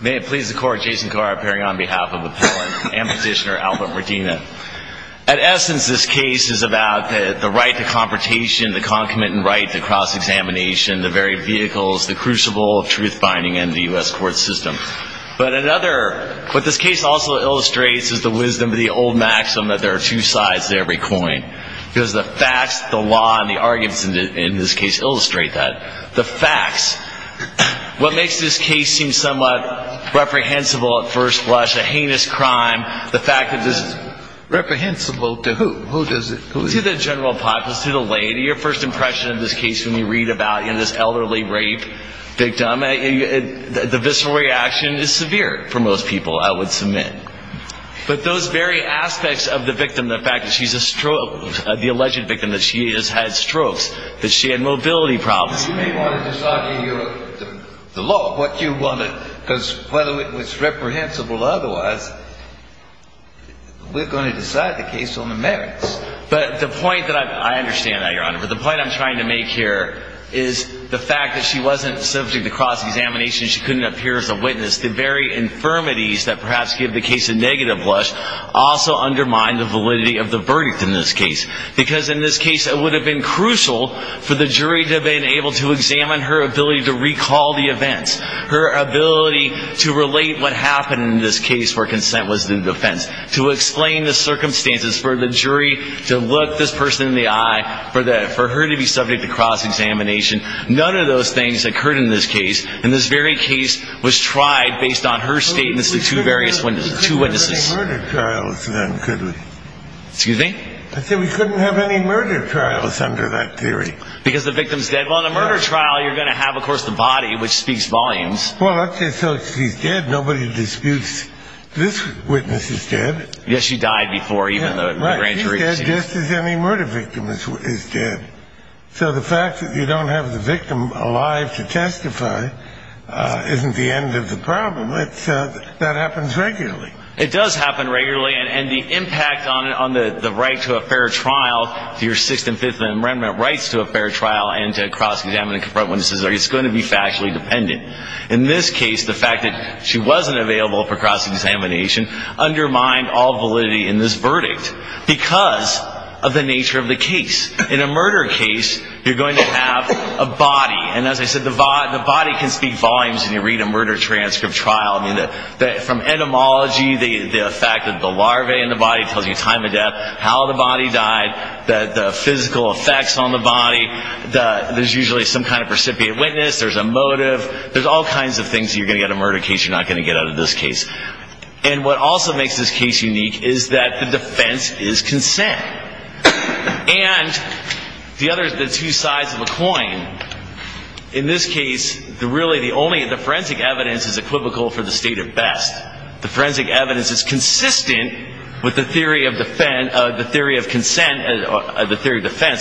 May it please the court, Jason Carr, appearing on behalf of appellant and petitioner Albert Medina. At essence, this case is about the right to confrontation, the concomitant right to cross-examination, the very vehicles, the crucible of truth-finding in the U.S. court system. But another, what this case also illustrates is the wisdom of the old maxim that there are two sides to every coin. Because the facts, the law, and the arguments in this case illustrate that. The facts, what makes this case seem somewhat reprehensible at first blush, a heinous crime, the fact that this is... Reprehensible to who? Who does it... To the general public, to the lady. Your first impression of this case when you read about this elderly rape victim, the visceral reaction is severe for most people, I would submit. But those very aspects of the victim, the fact that she's a stroke, the alleged victim that she is has strokes, that she had mobility problems... You may want to just argue the law, what you want to... Because whether it was reprehensible or otherwise, we're going to decide the case on the merits. But the point that I... I understand that, Your Honor. But the point I'm trying to make here is the fact that she wasn't subject to cross-examination, she couldn't appear as a witness, the very infirmities that perhaps give the case a negative blush also undermine the validity of the verdict in this case. Because in this case it would have been crucial for the jury to have been able to examine her ability to recall the events, her ability to relate what happened in this case where consent was in defense, to explain the circumstances for the jury to look this person in the eye, for her to be subject to cross-examination. None of those things occurred in this case. And this very case was tried based on her statements to two various witnesses. We couldn't have any murder trials then, could we? Excuse me? I said we couldn't have any murder trials under that theory. Because the victim's dead. Well, in a murder trial you're going to have, of course, the body, which speaks volumes. Well, let's say she's dead. Nobody disputes this witness is dead. Yes, she died before even the grand jury... Right, she's dead just as any murder victim is dead. So the fact that you don't have the victim alive to testify isn't the end of the problem. That happens regularly. It does happen regularly. And the impact on the right to a fair trial, your Sixth and Fifth Amendment rights to a fair trial and to cross-examine and confront witnesses, it's going to be factually dependent. In this case, the fact that she wasn't available for cross-examination undermined all validity in this verdict because of the nature of the case. In a murder case, you're going to have a body. And as I said, the body can speak volumes when you read a murder transcript trial. From etymology, the fact that the larvae in the body tells you time of death, how the body died, the physical effects on the body, there's usually some kind of precipitate witness, there's a motive, there's all kinds of things you're going to get in a murder case you're not going to get out of this case. And what also makes this case unique is that the defense is consent. And the two sides of a coin, in this case, really the forensic evidence is equivocal for the state at best. The forensic evidence is consistent with the theory of defense,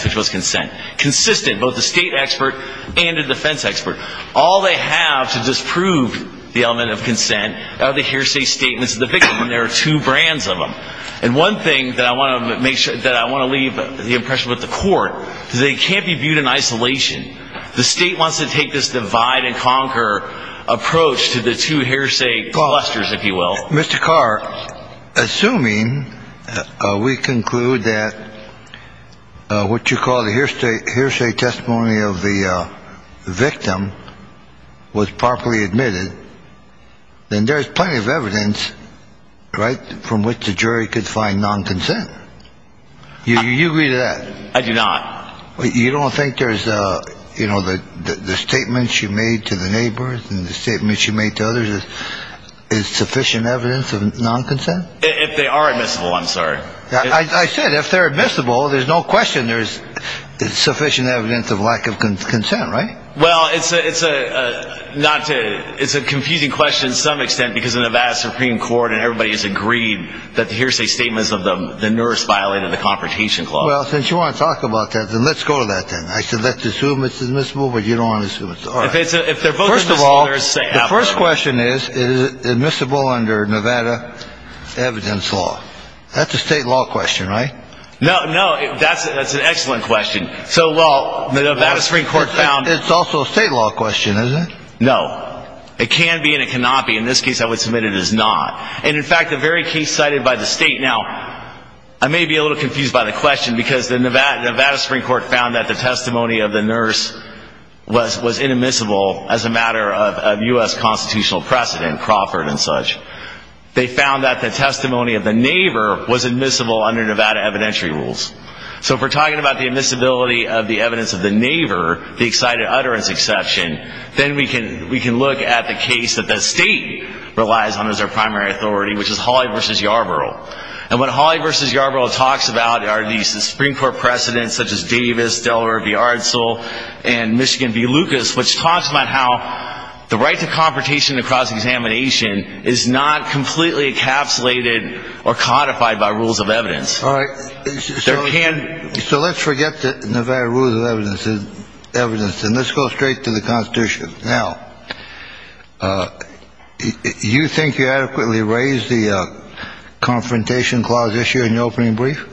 which was consent. Consistent, both the state expert and the defense expert. All they have to disprove the element of consent are the hearsay statements of the victim, and there are two brands of them. And one thing that I want to leave the impression with the court is they can't be viewed in isolation. The state wants to take this divide and conquer approach to the two hearsay clusters, if you will. Mr. Carr, assuming we conclude that what you call the hearsay testimony of the victim was properly admitted, then there's plenty of evidence, right, from which the jury could find non-consent. You agree to that? I do not. You don't think there's, you know, the statements you made to the neighbors and the statements you made to others is sufficient evidence of non-consent? If they are admissible, I'm sorry. I said if they're admissible, there's no question there's sufficient evidence of lack of consent, right? Well, it's a confusing question to some extent because the Nevada Supreme Court and everybody has agreed that the hearsay statements of the nurse violated the Confrontation Clause. Well, since you want to talk about that, then let's go to that then. I said let's assume it's admissible, but you don't want to assume it's not. First of all, the first question is, is it admissible under Nevada evidence law? That's a state law question, right? No, no, that's an excellent question. So, well, the Nevada Supreme Court found... It's also a state law question, isn't it? No. It can be and it cannot be. In this case, I would submit it is not. And, in fact, the very case cited by the state now, I may be a little confused by the question because the Nevada Supreme Court found that the testimony of the nurse was inadmissible as a matter of U.S. constitutional precedent, Crawford and such. They found that the testimony of the neighbor was admissible under Nevada evidentiary rules. So if we're talking about the admissibility of the evidence of the neighbor, the excited utterance exception, then we can look at the case that the state relies on as their primary authority, which is Hawley v. Yarborough. And what Hawley v. Yarborough talks about are these Supreme Court precedents, such as Davis, Delaware v. Ardsell, and Michigan v. Lucas, which talks about how the right to confrontation in a cross-examination is not completely encapsulated or codified by rules of evidence. All right. So let's forget the Nevada rules of evidence. And let's go straight to the Constitution. Now, do you think you adequately raised the confrontation clause issue in your opening brief?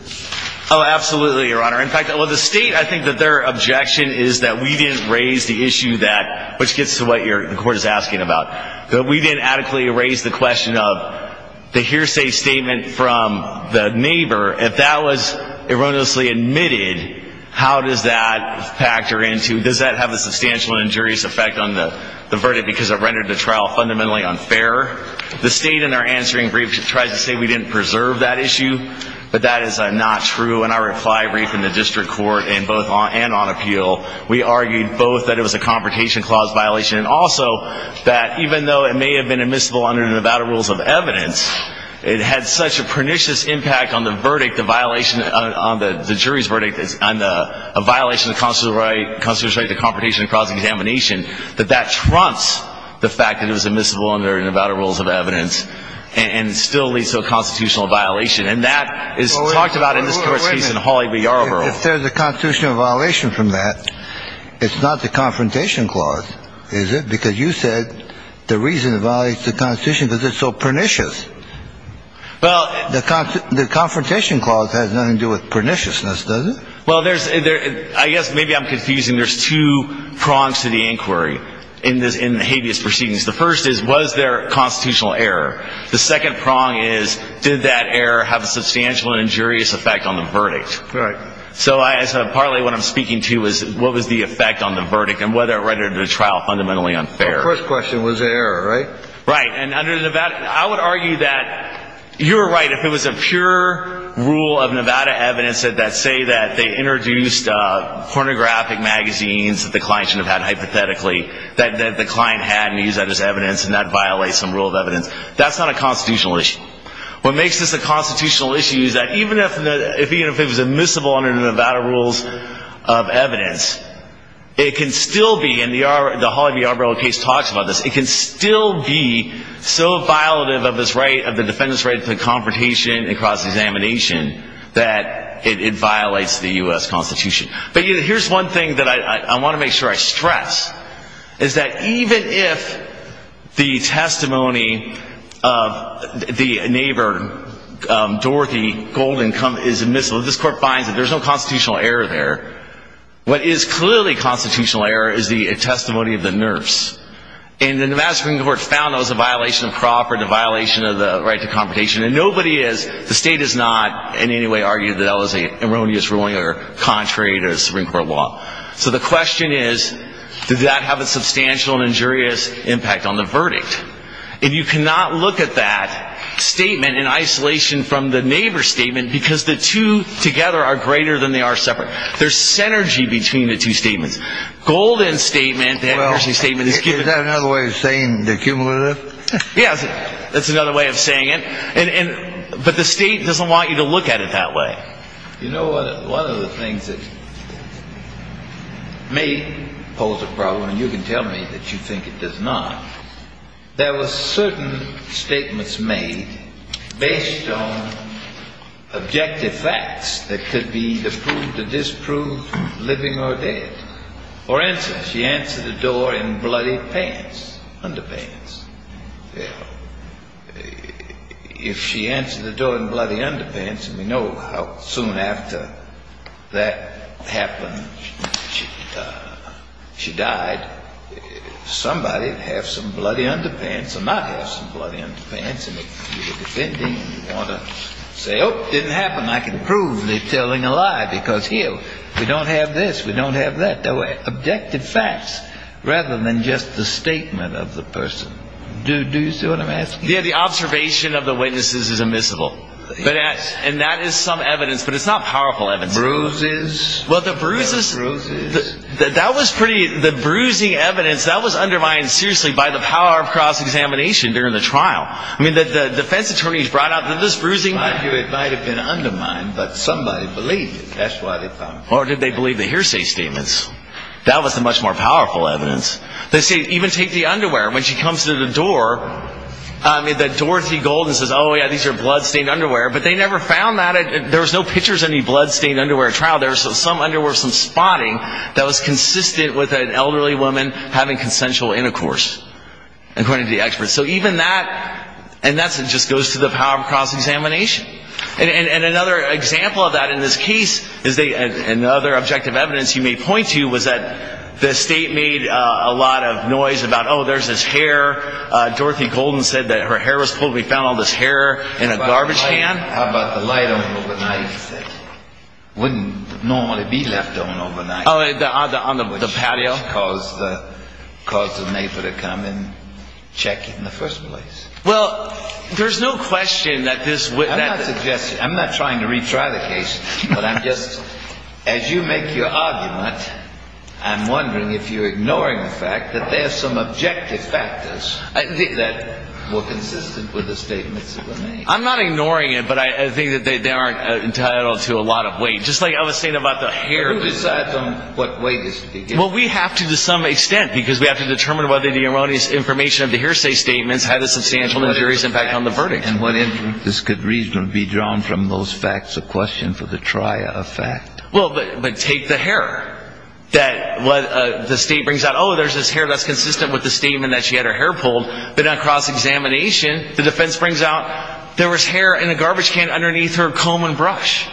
Oh, absolutely, Your Honor. In fact, the state, I think that their objection is that we didn't raise the issue that, which gets to what the Court is asking about, that we didn't adequately raise the question of the hearsay statement from the neighbor. If that was erroneously admitted, how does that factor into, does that have a substantial injurious effect on the verdict because it rendered the trial fundamentally unfair? The state in our answering brief tries to say we didn't preserve that issue, but that is not true. In our reply brief in the district court, and both on and on appeal, we argued both that it was a confrontation clause violation and also that even though it may have been admissible under the Nevada rules of evidence, it had such a pernicious impact on the verdict, the violation, on the jury's verdict, a violation of the constitutional right to confrontation and cross-examination, that that trumps the fact that it was admissible under Nevada rules of evidence and still leads to a constitutional violation. And that is talked about in this Court's case in Hawley v. Yarborough. If there's a constitutional violation from that, it's not the confrontation clause, is it? Because you said the reason it violates the Constitution is because it's so pernicious. The confrontation clause has nothing to do with perniciousness, does it? Well, I guess maybe I'm confusing. There's two prongs to the inquiry in the habeas proceedings. The first is, was there a constitutional error? The second prong is, did that error have a substantial injurious effect on the verdict? Right. So partly what I'm speaking to is what was the effect on the verdict and whether it rendered the trial fundamentally unfair. The first question was the error, right? Right. And under Nevada, I would argue that you're right if it was a pure rule of Nevada evidence that say that they introduced pornographic magazines that the client should have had hypothetically, that the client had and used that as evidence, and that violates some rule of evidence. That's not a constitutional issue. What makes this a constitutional issue is that even if it was admissible under Nevada rules of evidence, it can still be, and the Holly B. Arbrill case talks about this, it can still be so violative of the defendant's right to confrontation and cross-examination that it violates the U.S. Constitution. But here's one thing that I want to make sure I stress, is that even if the testimony of the neighbor, Dorothy Golden, is admissible, this court finds that there's no constitutional error there. What is clearly constitutional error is the testimony of the nurse. And the Nevada Supreme Court found that was a violation of property, a violation of the right to confrontation. And nobody is, the state has not in any way argued that that was an erroneous ruling or contrary to Supreme Court law. So the question is, does that have a substantial and injurious impact on the verdict? And you cannot look at that statement in isolation from the neighbor's statement because the two together are greater than they are separate. There's synergy between the two statements. Golden's statement, that nursing statement is given. Is that another way of saying the cumulative? Yes, that's another way of saying it. But the state doesn't want you to look at it that way. You know, one of the things that may pose a problem, and you can tell me that you think it does not, there were certain statements made based on objective facts that could be the proof to disprove living or dead. For instance, she answered the door in bloody pants, underpants. If she answered the door in bloody underpants, and we know how soon after that happened she died, somebody would have some bloody underpants or not have some bloody underpants. And if you were defending and you want to say, oh, it didn't happen, I can prove they're telling a lie because here we don't have this, we don't have that. Objective facts rather than just the statement of the person. Do you see what I'm asking? Yeah, the observation of the witnesses is immiscible. And that is some evidence, but it's not powerful evidence. Bruises. Well, the bruises, that was pretty, the bruising evidence, that was undermined seriously by the power of cross-examination during the trial. I mean, the defense attorneys brought out this bruising. It might have been undermined, but somebody believed it. That's why they found it. Or did they believe the hearsay statements? That was the much more powerful evidence. They say, even take the underwear. When she comes to the door, Dorothy Golden says, oh, yeah, these are blood-stained underwear. But they never found that. There was no pictures of any blood-stained underwear at trial. There was some underwear, some spotting that was consistent with an elderly woman having consensual intercourse, according to the experts. So even that, and that just goes to the power of cross-examination. And another example of that in this case, another objective evidence you may point to, was that the state made a lot of noise about, oh, there's this hair. Dorothy Golden said that her hair was pulled. We found all this hair in a garbage can. How about the light on overnight? It wouldn't normally be left on overnight. Oh, on the patio? Which caused the neighbor to come and check it in the first place. Well, there's no question that this would – I'm not suggesting, I'm not trying to retry the case. But I'm just, as you make your argument, I'm wondering if you're ignoring the fact that there are some objective factors that were consistent with the statements that were made. I'm not ignoring it, but I think that they aren't entitled to a lot of weight. Just like I was saying about the hair. Who decides on what weight is to be given? Well, we have to to some extent, because we have to determine whether the erroneous information of the hearsay statements had a substantial and serious impact on the verdict. And what information? This could reasonably be drawn from those facts. A question for the trier of fact. Well, but take the hair that the state brings out. Oh, there's this hair that's consistent with the statement that she had her hair pulled. But on cross-examination, the defense brings out there was hair in a garbage can underneath her comb and brush.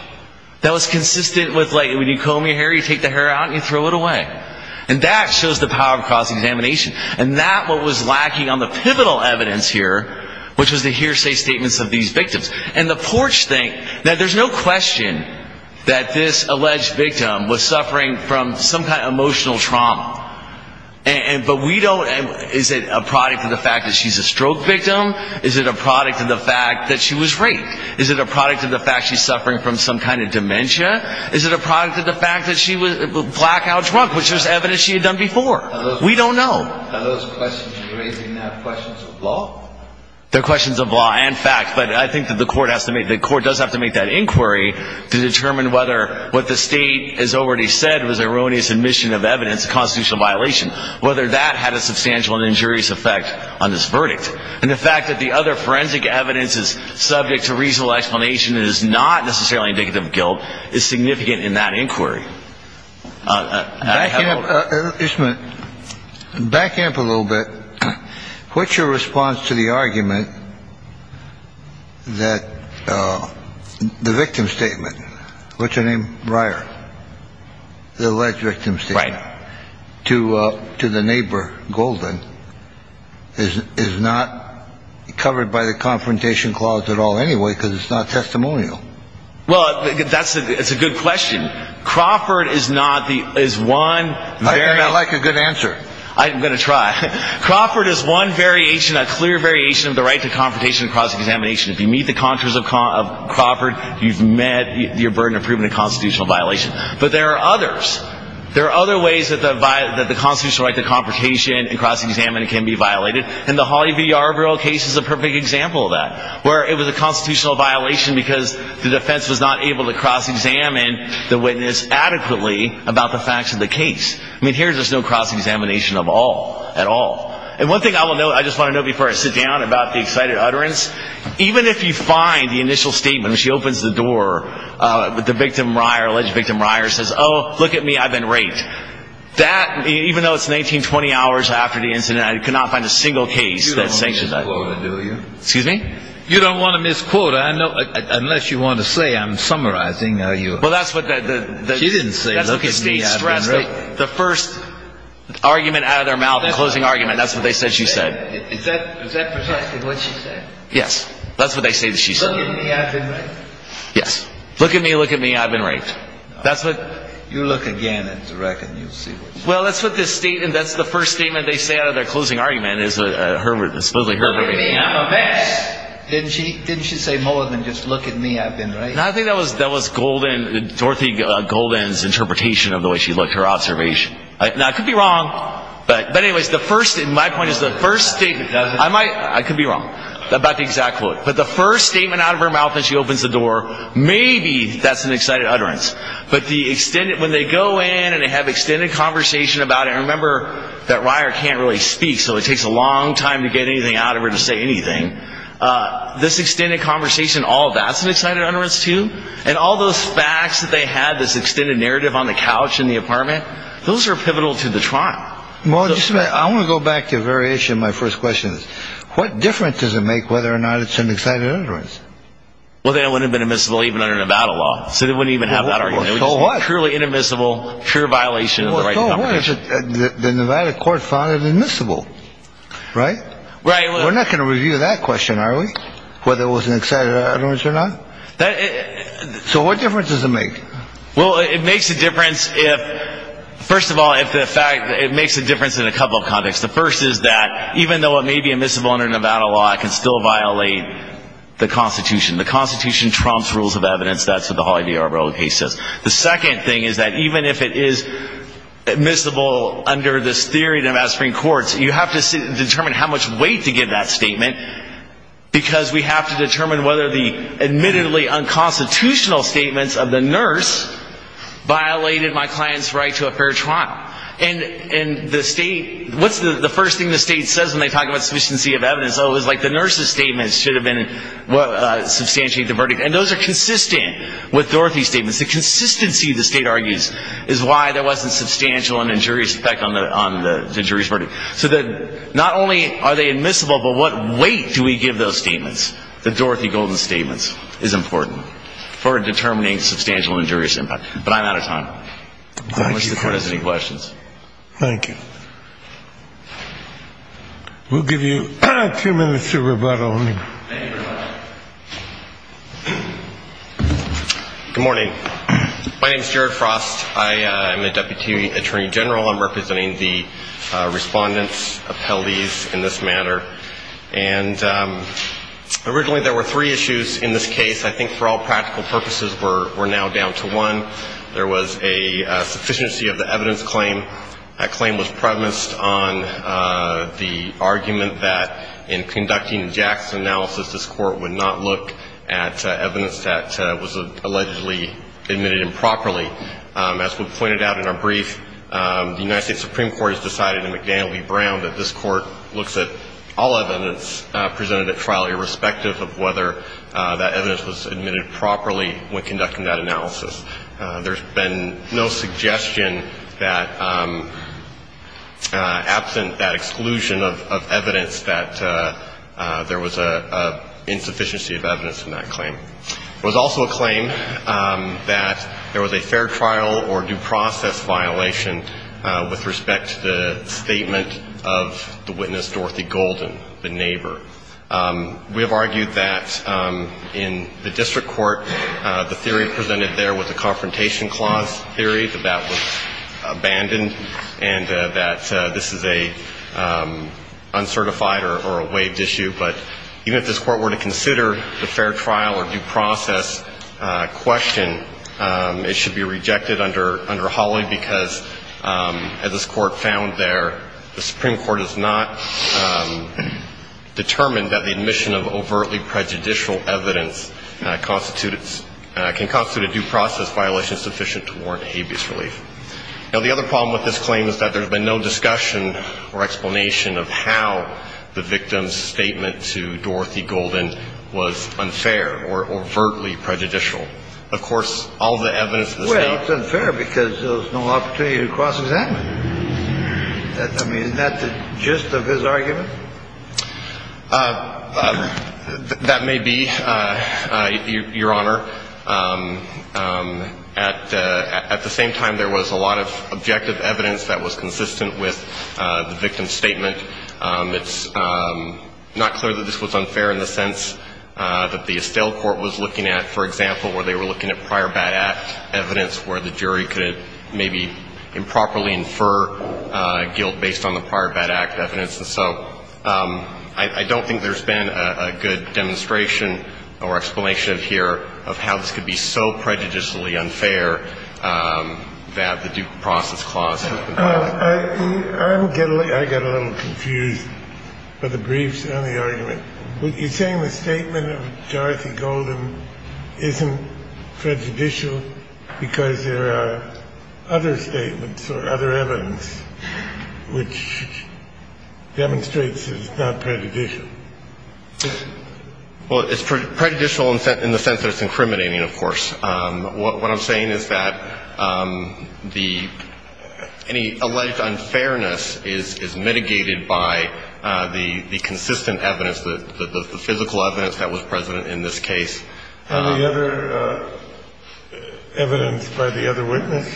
That was consistent with, like, when you comb your hair, you take the hair out and you throw it away. And that shows the power of cross-examination. And that's what was lacking on the pivotal evidence here, which was the hearsay statements of these victims. And the courts think that there's no question that this alleged victim was suffering from some kind of emotional trauma. But we don't... Is it a product of the fact that she's a stroke victim? Is it a product of the fact that she was raped? Is it a product of the fact that she's suffering from some kind of dementia? Is it a product of the fact that she was blackout drunk, which was evidence she had done before? We don't know. Are those questions you're raising questions of law? They're questions of law and fact. But I think that the court does have to make that inquiry to determine whether what the state has already said was an erroneous admission of evidence of constitutional violation, whether that had a substantial and injurious effect on this verdict. And the fact that the other forensic evidence is subject to reasonable explanation and is not necessarily indicative of guilt is significant in that inquiry. Just a minute. Backing up a little bit, what's your response to the argument that the victim statement, what's her name? Breyer. The alleged victim statement. Right. To the neighbor, Golden, is not covered by the Confrontation Clause at all anyway because it's not testimonial. Well, that's a good question. Crawford is one variation. I hear you like a good answer. I'm going to try. Crawford is one variation, a clear variation, of the right to confrontation and cross-examination. If you meet the contracts of Crawford, you've met your burden of proving a constitutional violation. But there are others. There are other ways that the constitutional right to confrontation and cross-examination can be violated, and the Holly V. Arbrill case is a perfect example of that, where it was a constitutional violation because the defense was not able to cross-examine the witness adequately about the facts of the case. I mean, here there's no cross-examination of all, at all. And one thing I will note, I just want to note before I sit down, about the excited utterance, even if you find the initial statement, when she opens the door, the victim, the alleged victim, says, oh, look at me, I've been raped. That, even though it's 19, 20 hours after the incident, I could not find a single case that sanctioned that. You don't want to misquote it, do you? Excuse me? You don't want to misquote it, unless you want to say, I'm summarizing. She didn't say, look at me, I've been raped. The first argument out of their mouth, the closing argument, that's what they said she said. Is that precisely what she said? Yes. That's what they say that she said. Look at me, I've been raped. Yes. Look at me, look at me, I've been raped. You look again at the record and you'll see what she said. Well, that's what this statement, that's the first statement they say out of their closing argument, is supposedly Herbert. Look at me, I'm a mess. Didn't she say more than just, look at me, I've been raped? I think that was Golden, Dorothy Golden's interpretation of the way she looked, her observation. Now, I could be wrong, but anyways, the first, my point is the first statement, I could be wrong about the exact quote, but the first statement out of her mouth when she opens the door, maybe that's an excited utterance. But the extended, when they go in and they have extended conversation about it, and remember that Ryer can't really speak, so it takes a long time to get anything out of her to say anything. This extended conversation, all that's an excited utterance too, and all those facts that they had, this extended narrative on the couch in the apartment, those are pivotal to the trial. Well, just a minute, I want to go back to a variation of my first question. What difference does it make whether or not it's an excited utterance? Well, then it wouldn't have been admissible even under Nevada law, so they wouldn't even have that argument. It would just be purely inadmissible, pure violation of the right to conversation. The Nevada court found it admissible, right? Right. We're not going to review that question, are we? Whether it was an excited utterance or not? So what difference does it make? Well, it makes a difference if, first of all, if the fact that it makes a difference in a couple of contexts. The first is that even though it may be admissible under Nevada law, it can still violate the Constitution. The Constitution trumps rules of evidence. That's what the Hawley v. Arboro case says. The second thing is that even if it is admissible under this theory in the Nevada Supreme Court, you have to determine how much weight to give that statement, because we have to determine whether the admittedly unconstitutional statements of the nurse violated my client's right to a fair trial. And the state, what's the first thing the state says when they talk about sufficiency of evidence? Oh, it was like the nurse's statements should have been substantiating the verdict. And those are consistent with Dorothy's statements. The consistency, the state argues, is why there wasn't substantial and injurious effect on the jury's verdict. So that not only are they admissible, but what weight do we give those statements? The Dorothy Golden statements is important for determining substantial and injurious impact. But I'm out of time. I don't know if the Court has any questions. Thank you. We'll give you two minutes to rebuttal. Good morning. My name is Jared Frost. I am a deputy attorney general. I'm representing the Respondent's appellees in this matter. And originally there were three issues in this case. I think for all practical purposes we're now down to one. There was a sufficiency of the evidence claim. That claim was premised on the argument that in conducting Jackson's analysis, this Court would not look at evidence that was allegedly admitted improperly. As was pointed out in our brief, the United States Supreme Court has decided in McDaniel v. Brown that this Court looks at all evidence presented at trial, irrespective of whether that evidence was admitted properly when conducting that analysis. There's been no suggestion that, absent that exclusion of evidence, that there was an insufficiency of evidence in that claim. There was also a claim that there was a fair trial or due process violation with respect to the statement of the witness Dorothy Golden, the neighbor. We have argued that in the district court, the theory presented there was a confrontation clause theory, that that was abandoned, and that this is an uncertified or a waived issue. But even if this Court were to consider the fair trial or due process question, it should be rejected under Hawley because, as this Court found there, the Supreme Court has not determined that the admission of overtly prejudicial evidence can constitute a due process violation sufficient to warrant habeas relief. Now, the other problem with this claim is that there's been no discussion or explanation of how the victim's statement to Dorothy Golden was unfair or overtly prejudicial. Of course, all the evidence that's there... Well, it's unfair because there was no opportunity to cross-examine. I mean, isn't that the gist of his argument? That may be, Your Honor. At the same time, there was a lot of objective evidence that was consistent with the victim's statement. It's not clear that this was unfair in the sense that the Estelle Court was looking at, for example, where they were looking at prior bad act evidence where the jury could maybe improperly infer guilt based on the prior bad act evidence. And so I don't think there's been a good demonstration or explanation here of how this could be so prejudicially unfair that the due process clause has been passed. I'm getting a little confused by the briefs and the argument. You're saying the statement of Dorothy Golden isn't prejudicial because there are other statements or other evidence which demonstrates it's not prejudicial. Well, it's prejudicial in the sense that it's incriminating, of course. What I'm saying is that any alleged unfairness is mitigated by the consistent evidence, the physical evidence that was present in this case. And the other evidence by the other witness.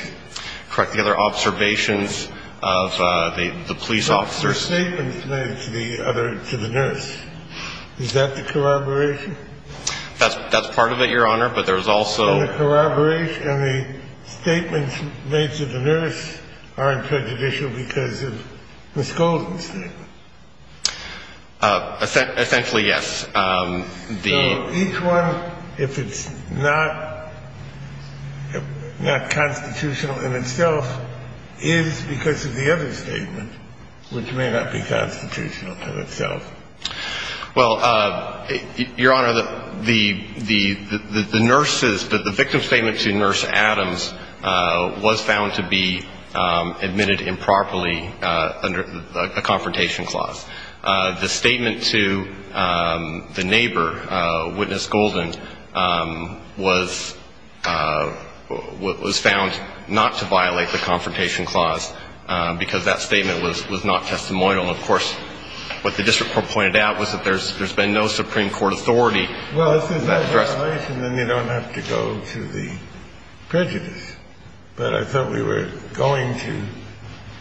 Correct. The other observations of the police officers. The other statements made to the nurse. Is that the corroboration? That's part of it, Your Honor. But there's also the corroboration. And the statements made to the nurse aren't prejudicial because of Ms. Golden's statement. Essentially, yes. So each one, if it's not constitutional in itself, is because of the other statement, which may not be constitutional to itself. Well, Your Honor, the nurse's, the victim's statement to Nurse Adams was found to be admitted improperly under a confrontation clause. The statement to the neighbor, Witness Golden, was found not to violate the confrontation clause because that statement was not testimonial. And, of course, what the district court pointed out was that there's been no Supreme Court authority to address that. Well, if there's no violation, then you don't have to go to the prejudice. But I thought we were going to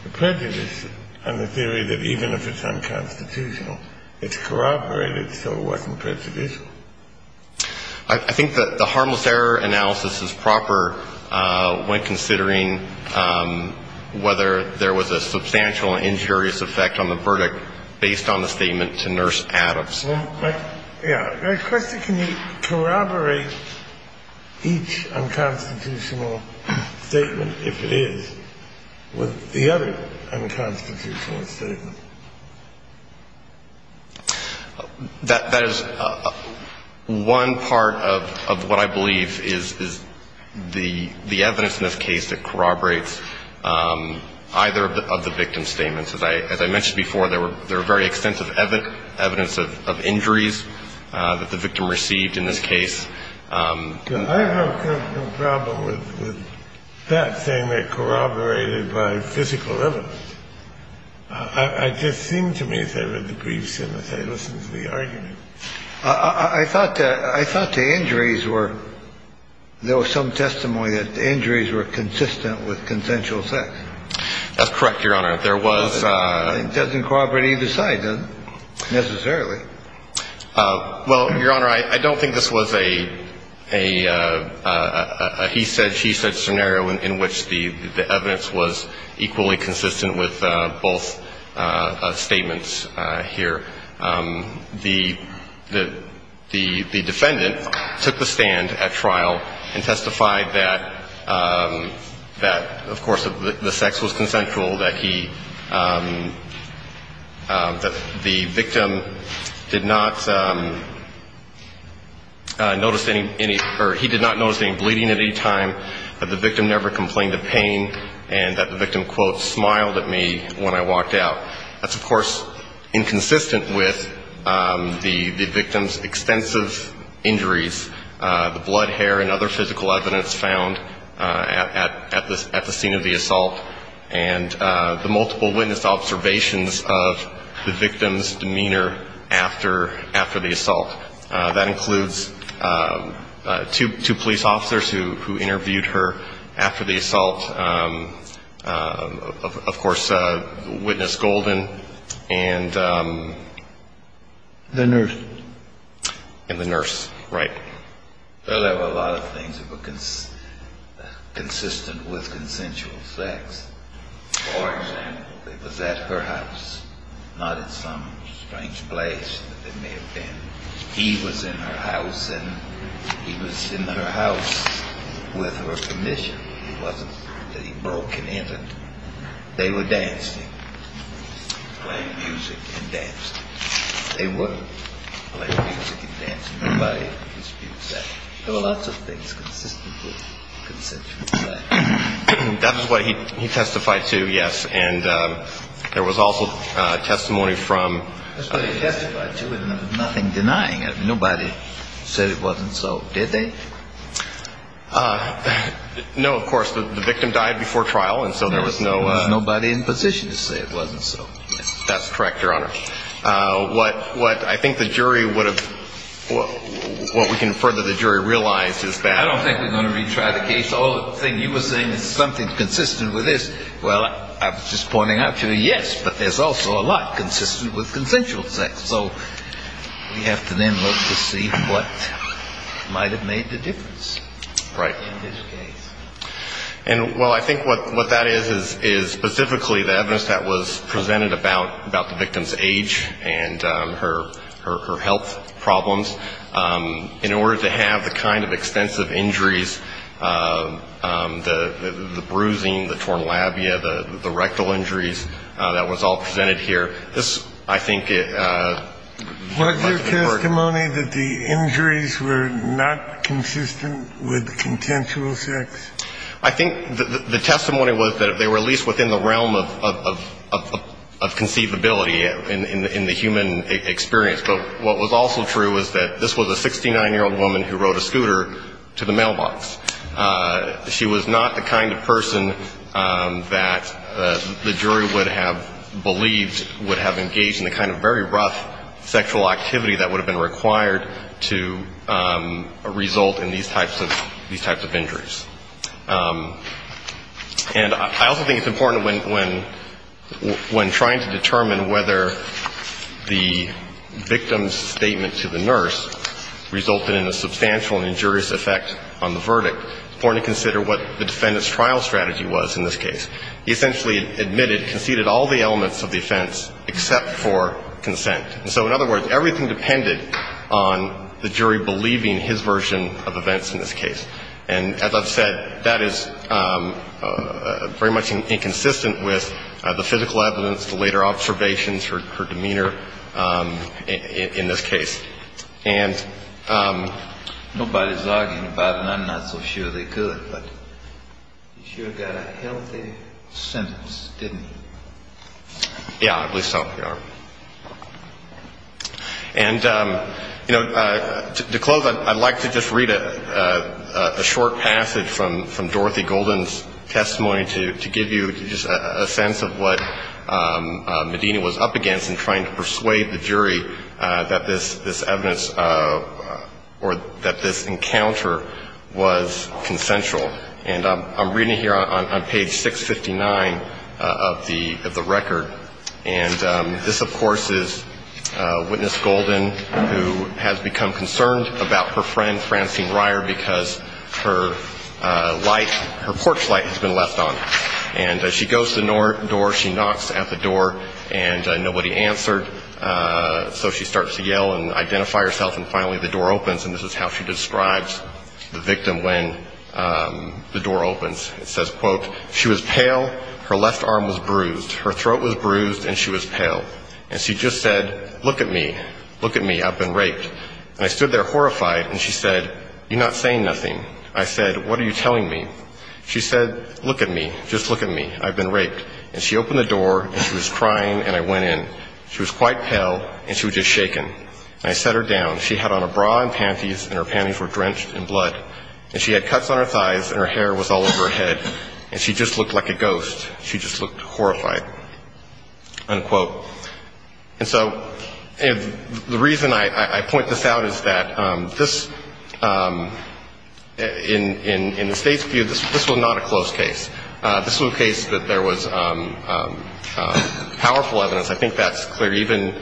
the prejudice on the theory that even if it's unconstitutional, it's corroborated, so it wasn't prejudicial. I think that the harmless error analysis is proper when considering whether there was a substantial injurious effect on the verdict based on the statement to Nurse Adams. Well, my question, can you corroborate each unconstitutional statement, if it is, with the other unconstitutional statement? That is one part of what I believe is the evidence in this case that corroborates either of the victim's statements. As I mentioned before, there were very extensive evidence of injuries that the victim received in this case. I have no problem with that statement corroborated by physical evidence. It just seemed to me as I read the briefs and as I listened to the argument. I thought the injuries were – there was some testimony that the injuries were consistent with consensual sex. That's correct, Your Honor. It doesn't corroborate either side, necessarily. Well, Your Honor, I don't think this was a he-said-she-said scenario in which the evidence was equally consistent with both statements here. The defendant took the stand at trial and testified that, of course, the sex was consensual, that he – that the victim did not notice any – or he did not notice any bleeding at any time, that the victim never complained of pain, and that the victim, quote, smiled at me when I walked out. That's, of course, inconsistent with the victim's extensive injuries, the blood, hair, and other physical evidence found at the scene of the assault, and the multiple witness observations of the victim's demeanor after the assault. That includes two police officers who interviewed her after the assault, of course, Witness Golden and – The nurse. And the nurse, right. Well, there were a lot of things that were consistent with consensual sex. For example, they was at her house, not at some strange place that they may have been. He was in her house, and he was in her house with her commission. It wasn't that he broke and entered. They were dancing, playing music and dancing. They were playing music and dancing. Nobody disputes that. There were lots of things consistent with consensual sex. That was what he testified to, yes, and there was also testimony from – That's what he testified to, and there was nothing denying it. Nobody said it wasn't so, did they? No, of course. The victim died before trial, and so there was no – There was nobody in position to say it wasn't so. That's correct, Your Honor. What I think the jury would have – what we can infer that the jury realized is that – I don't think we're going to retry the case. All the thing you were saying is something consistent with this. Well, I was just pointing out to you, yes, but there's also a lot consistent with consensual sex. So we have to then look to see what might have made the difference in this case. Right. And, well, I think what that is is specifically the evidence that was presented about the victim's age and her health problems in order to have the kind of extensive injuries, the bruising, the torn labia, the rectal injuries that was all presented here. This, I think – Was there testimony that the injuries were not consistent with consensual sex? I think the testimony was that they were at least within the realm of conceivability in the human experience. But what was also true was that this was a 69-year-old woman who rode a scooter to the mailbox. She was not the kind of person that the jury would have believed would have engaged in the kind of very rough sexual activity that would have been required to result in these types of injuries. And I also think it's important when trying to determine whether the victim's statement to the nurse resulted in a substantial and injurious effect on the verdict, it's important to consider what the defendant's trial strategy was in this case. He essentially admitted, conceded all the elements of the offense except for consent. And so, in other words, everything depended on the jury believing his version of events in this case. And as I've said, that is very much inconsistent with the physical evidence, the later observations, her demeanor in this case. And nobody's arguing about it, and I'm not so sure they could, but you sure got a healthy sentence, didn't you? Yeah, I believe so, Your Honor. And, you know, to close, I'd like to just read a short passage from Dorothy Golden's testimony to give you just a sense of what this evidence or that this encounter was consensual. And I'm reading here on page 659 of the record. And this, of course, is Witness Golden, who has become concerned about her friend, Francine Ryer, because her light, her porch light has been left on. And she goes to the door, she knocks at the door, and nobody answered. So she starts to yell and identify herself, and finally the door opens, and this is how she describes the victim when the door opens. It says, quote, she was pale, her left arm was bruised, her throat was bruised, and she was pale. And she just said, look at me, look at me, I've been raped. And I stood there horrified, and she said, you're not saying nothing. I said, what are you telling me? She said, look at me, just look at me, I've been raped. And she opened the door, and she was crying, and I went in. She was quite pale, and she was just shaken. And I sat her down. She had on a bra and panties, and her panties were drenched in blood. And she had cuts on her thighs, and her hair was all over her head, and she just looked like a ghost. She just looked horrified, unquote. And so the reason I point this out is that this, in the State's view, this was not a close case. This was a case that there was powerful evidence. I think that's clear. Even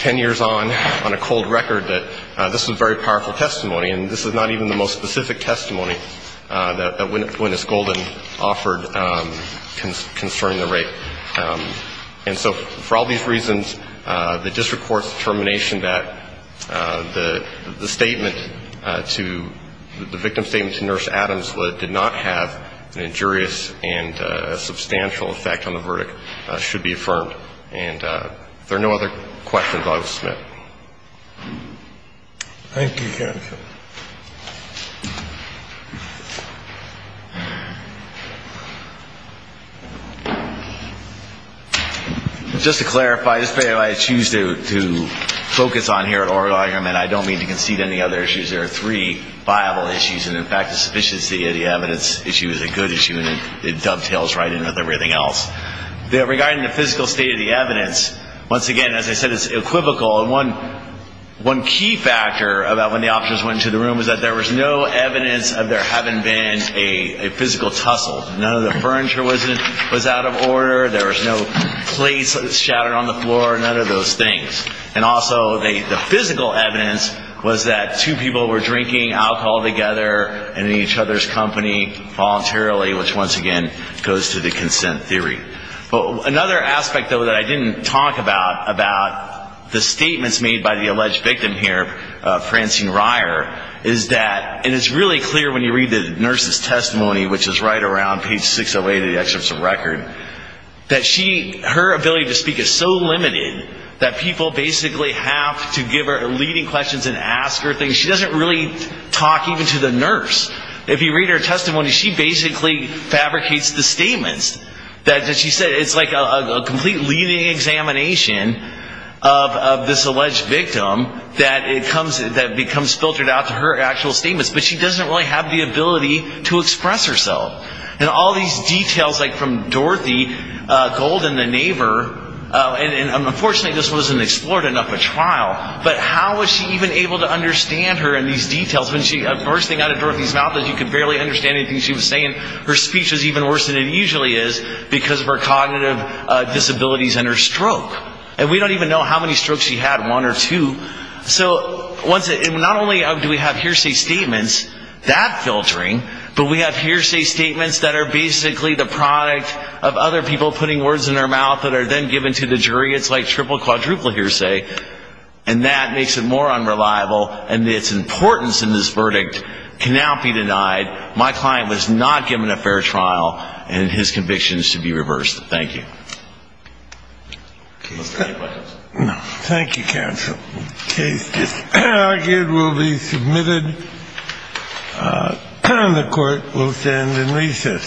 ten years on, on a cold record, that this was very powerful testimony. And this is not even the most specific testimony that Gwyneth Golden offered concerning the rape. And so for all these reasons, the district court's determination that the statement to the victim's statement to And if there are no other questions, I will submit. Thank you, counsel. Just to clarify, just because I choose to focus on here at oral argument, I don't mean to concede any other issues. There are three viable issues. And, in fact, the sufficiency of the evidence issue is a good issue, and it dovetails right in with everything else. Regarding the physical state of the evidence, once again, as I said, it's equivocal. And one key factor about when the officers went into the room was that there was no evidence of there having been a physical tussle. None of the furniture was out of order. There was no plates shattered on the floor, none of those things. And also the physical evidence was that two people were drinking alcohol together in each other's company voluntarily, which, once again, goes to the consent theory. Another aspect, though, that I didn't talk about, about the statements made by the alleged victim here, Francine Reier, is that, and it's really clear when you read the nurse's testimony, which is right around page 608 of the excerpts of record, that her ability to speak is so limited that people basically have to give her leading questions and ask her things. She doesn't really talk even to the nurse. If you read her testimony, she basically fabricates the statements that she said. It's like a complete leading examination of this alleged victim that becomes filtered out to her actual statements. But she doesn't really have the ability to express herself. And all these details, like from Dorothy Gold and the neighbor, and unfortunately this wasn't explored enough at trial, but how was she even able to understand her in these details? The worst thing out of Dorothy's mouth is you could barely understand anything she was saying. Her speech was even worse than it usually is because of her cognitive disabilities and her stroke. And we don't even know how many strokes she had, one or two. So not only do we have hearsay statements that filtering, but we have hearsay statements that are basically the product of other people putting words in her mouth that are then given to the jury. It's like triple, quadruple hearsay. And that makes it more unreliable, and its importance in this verdict cannot be denied. My client was not given a fair trial, and his conviction is to be reversed. Thank you. Any questions? No. Thank you, counsel. The case is argued, will be submitted. The court will stand in recess.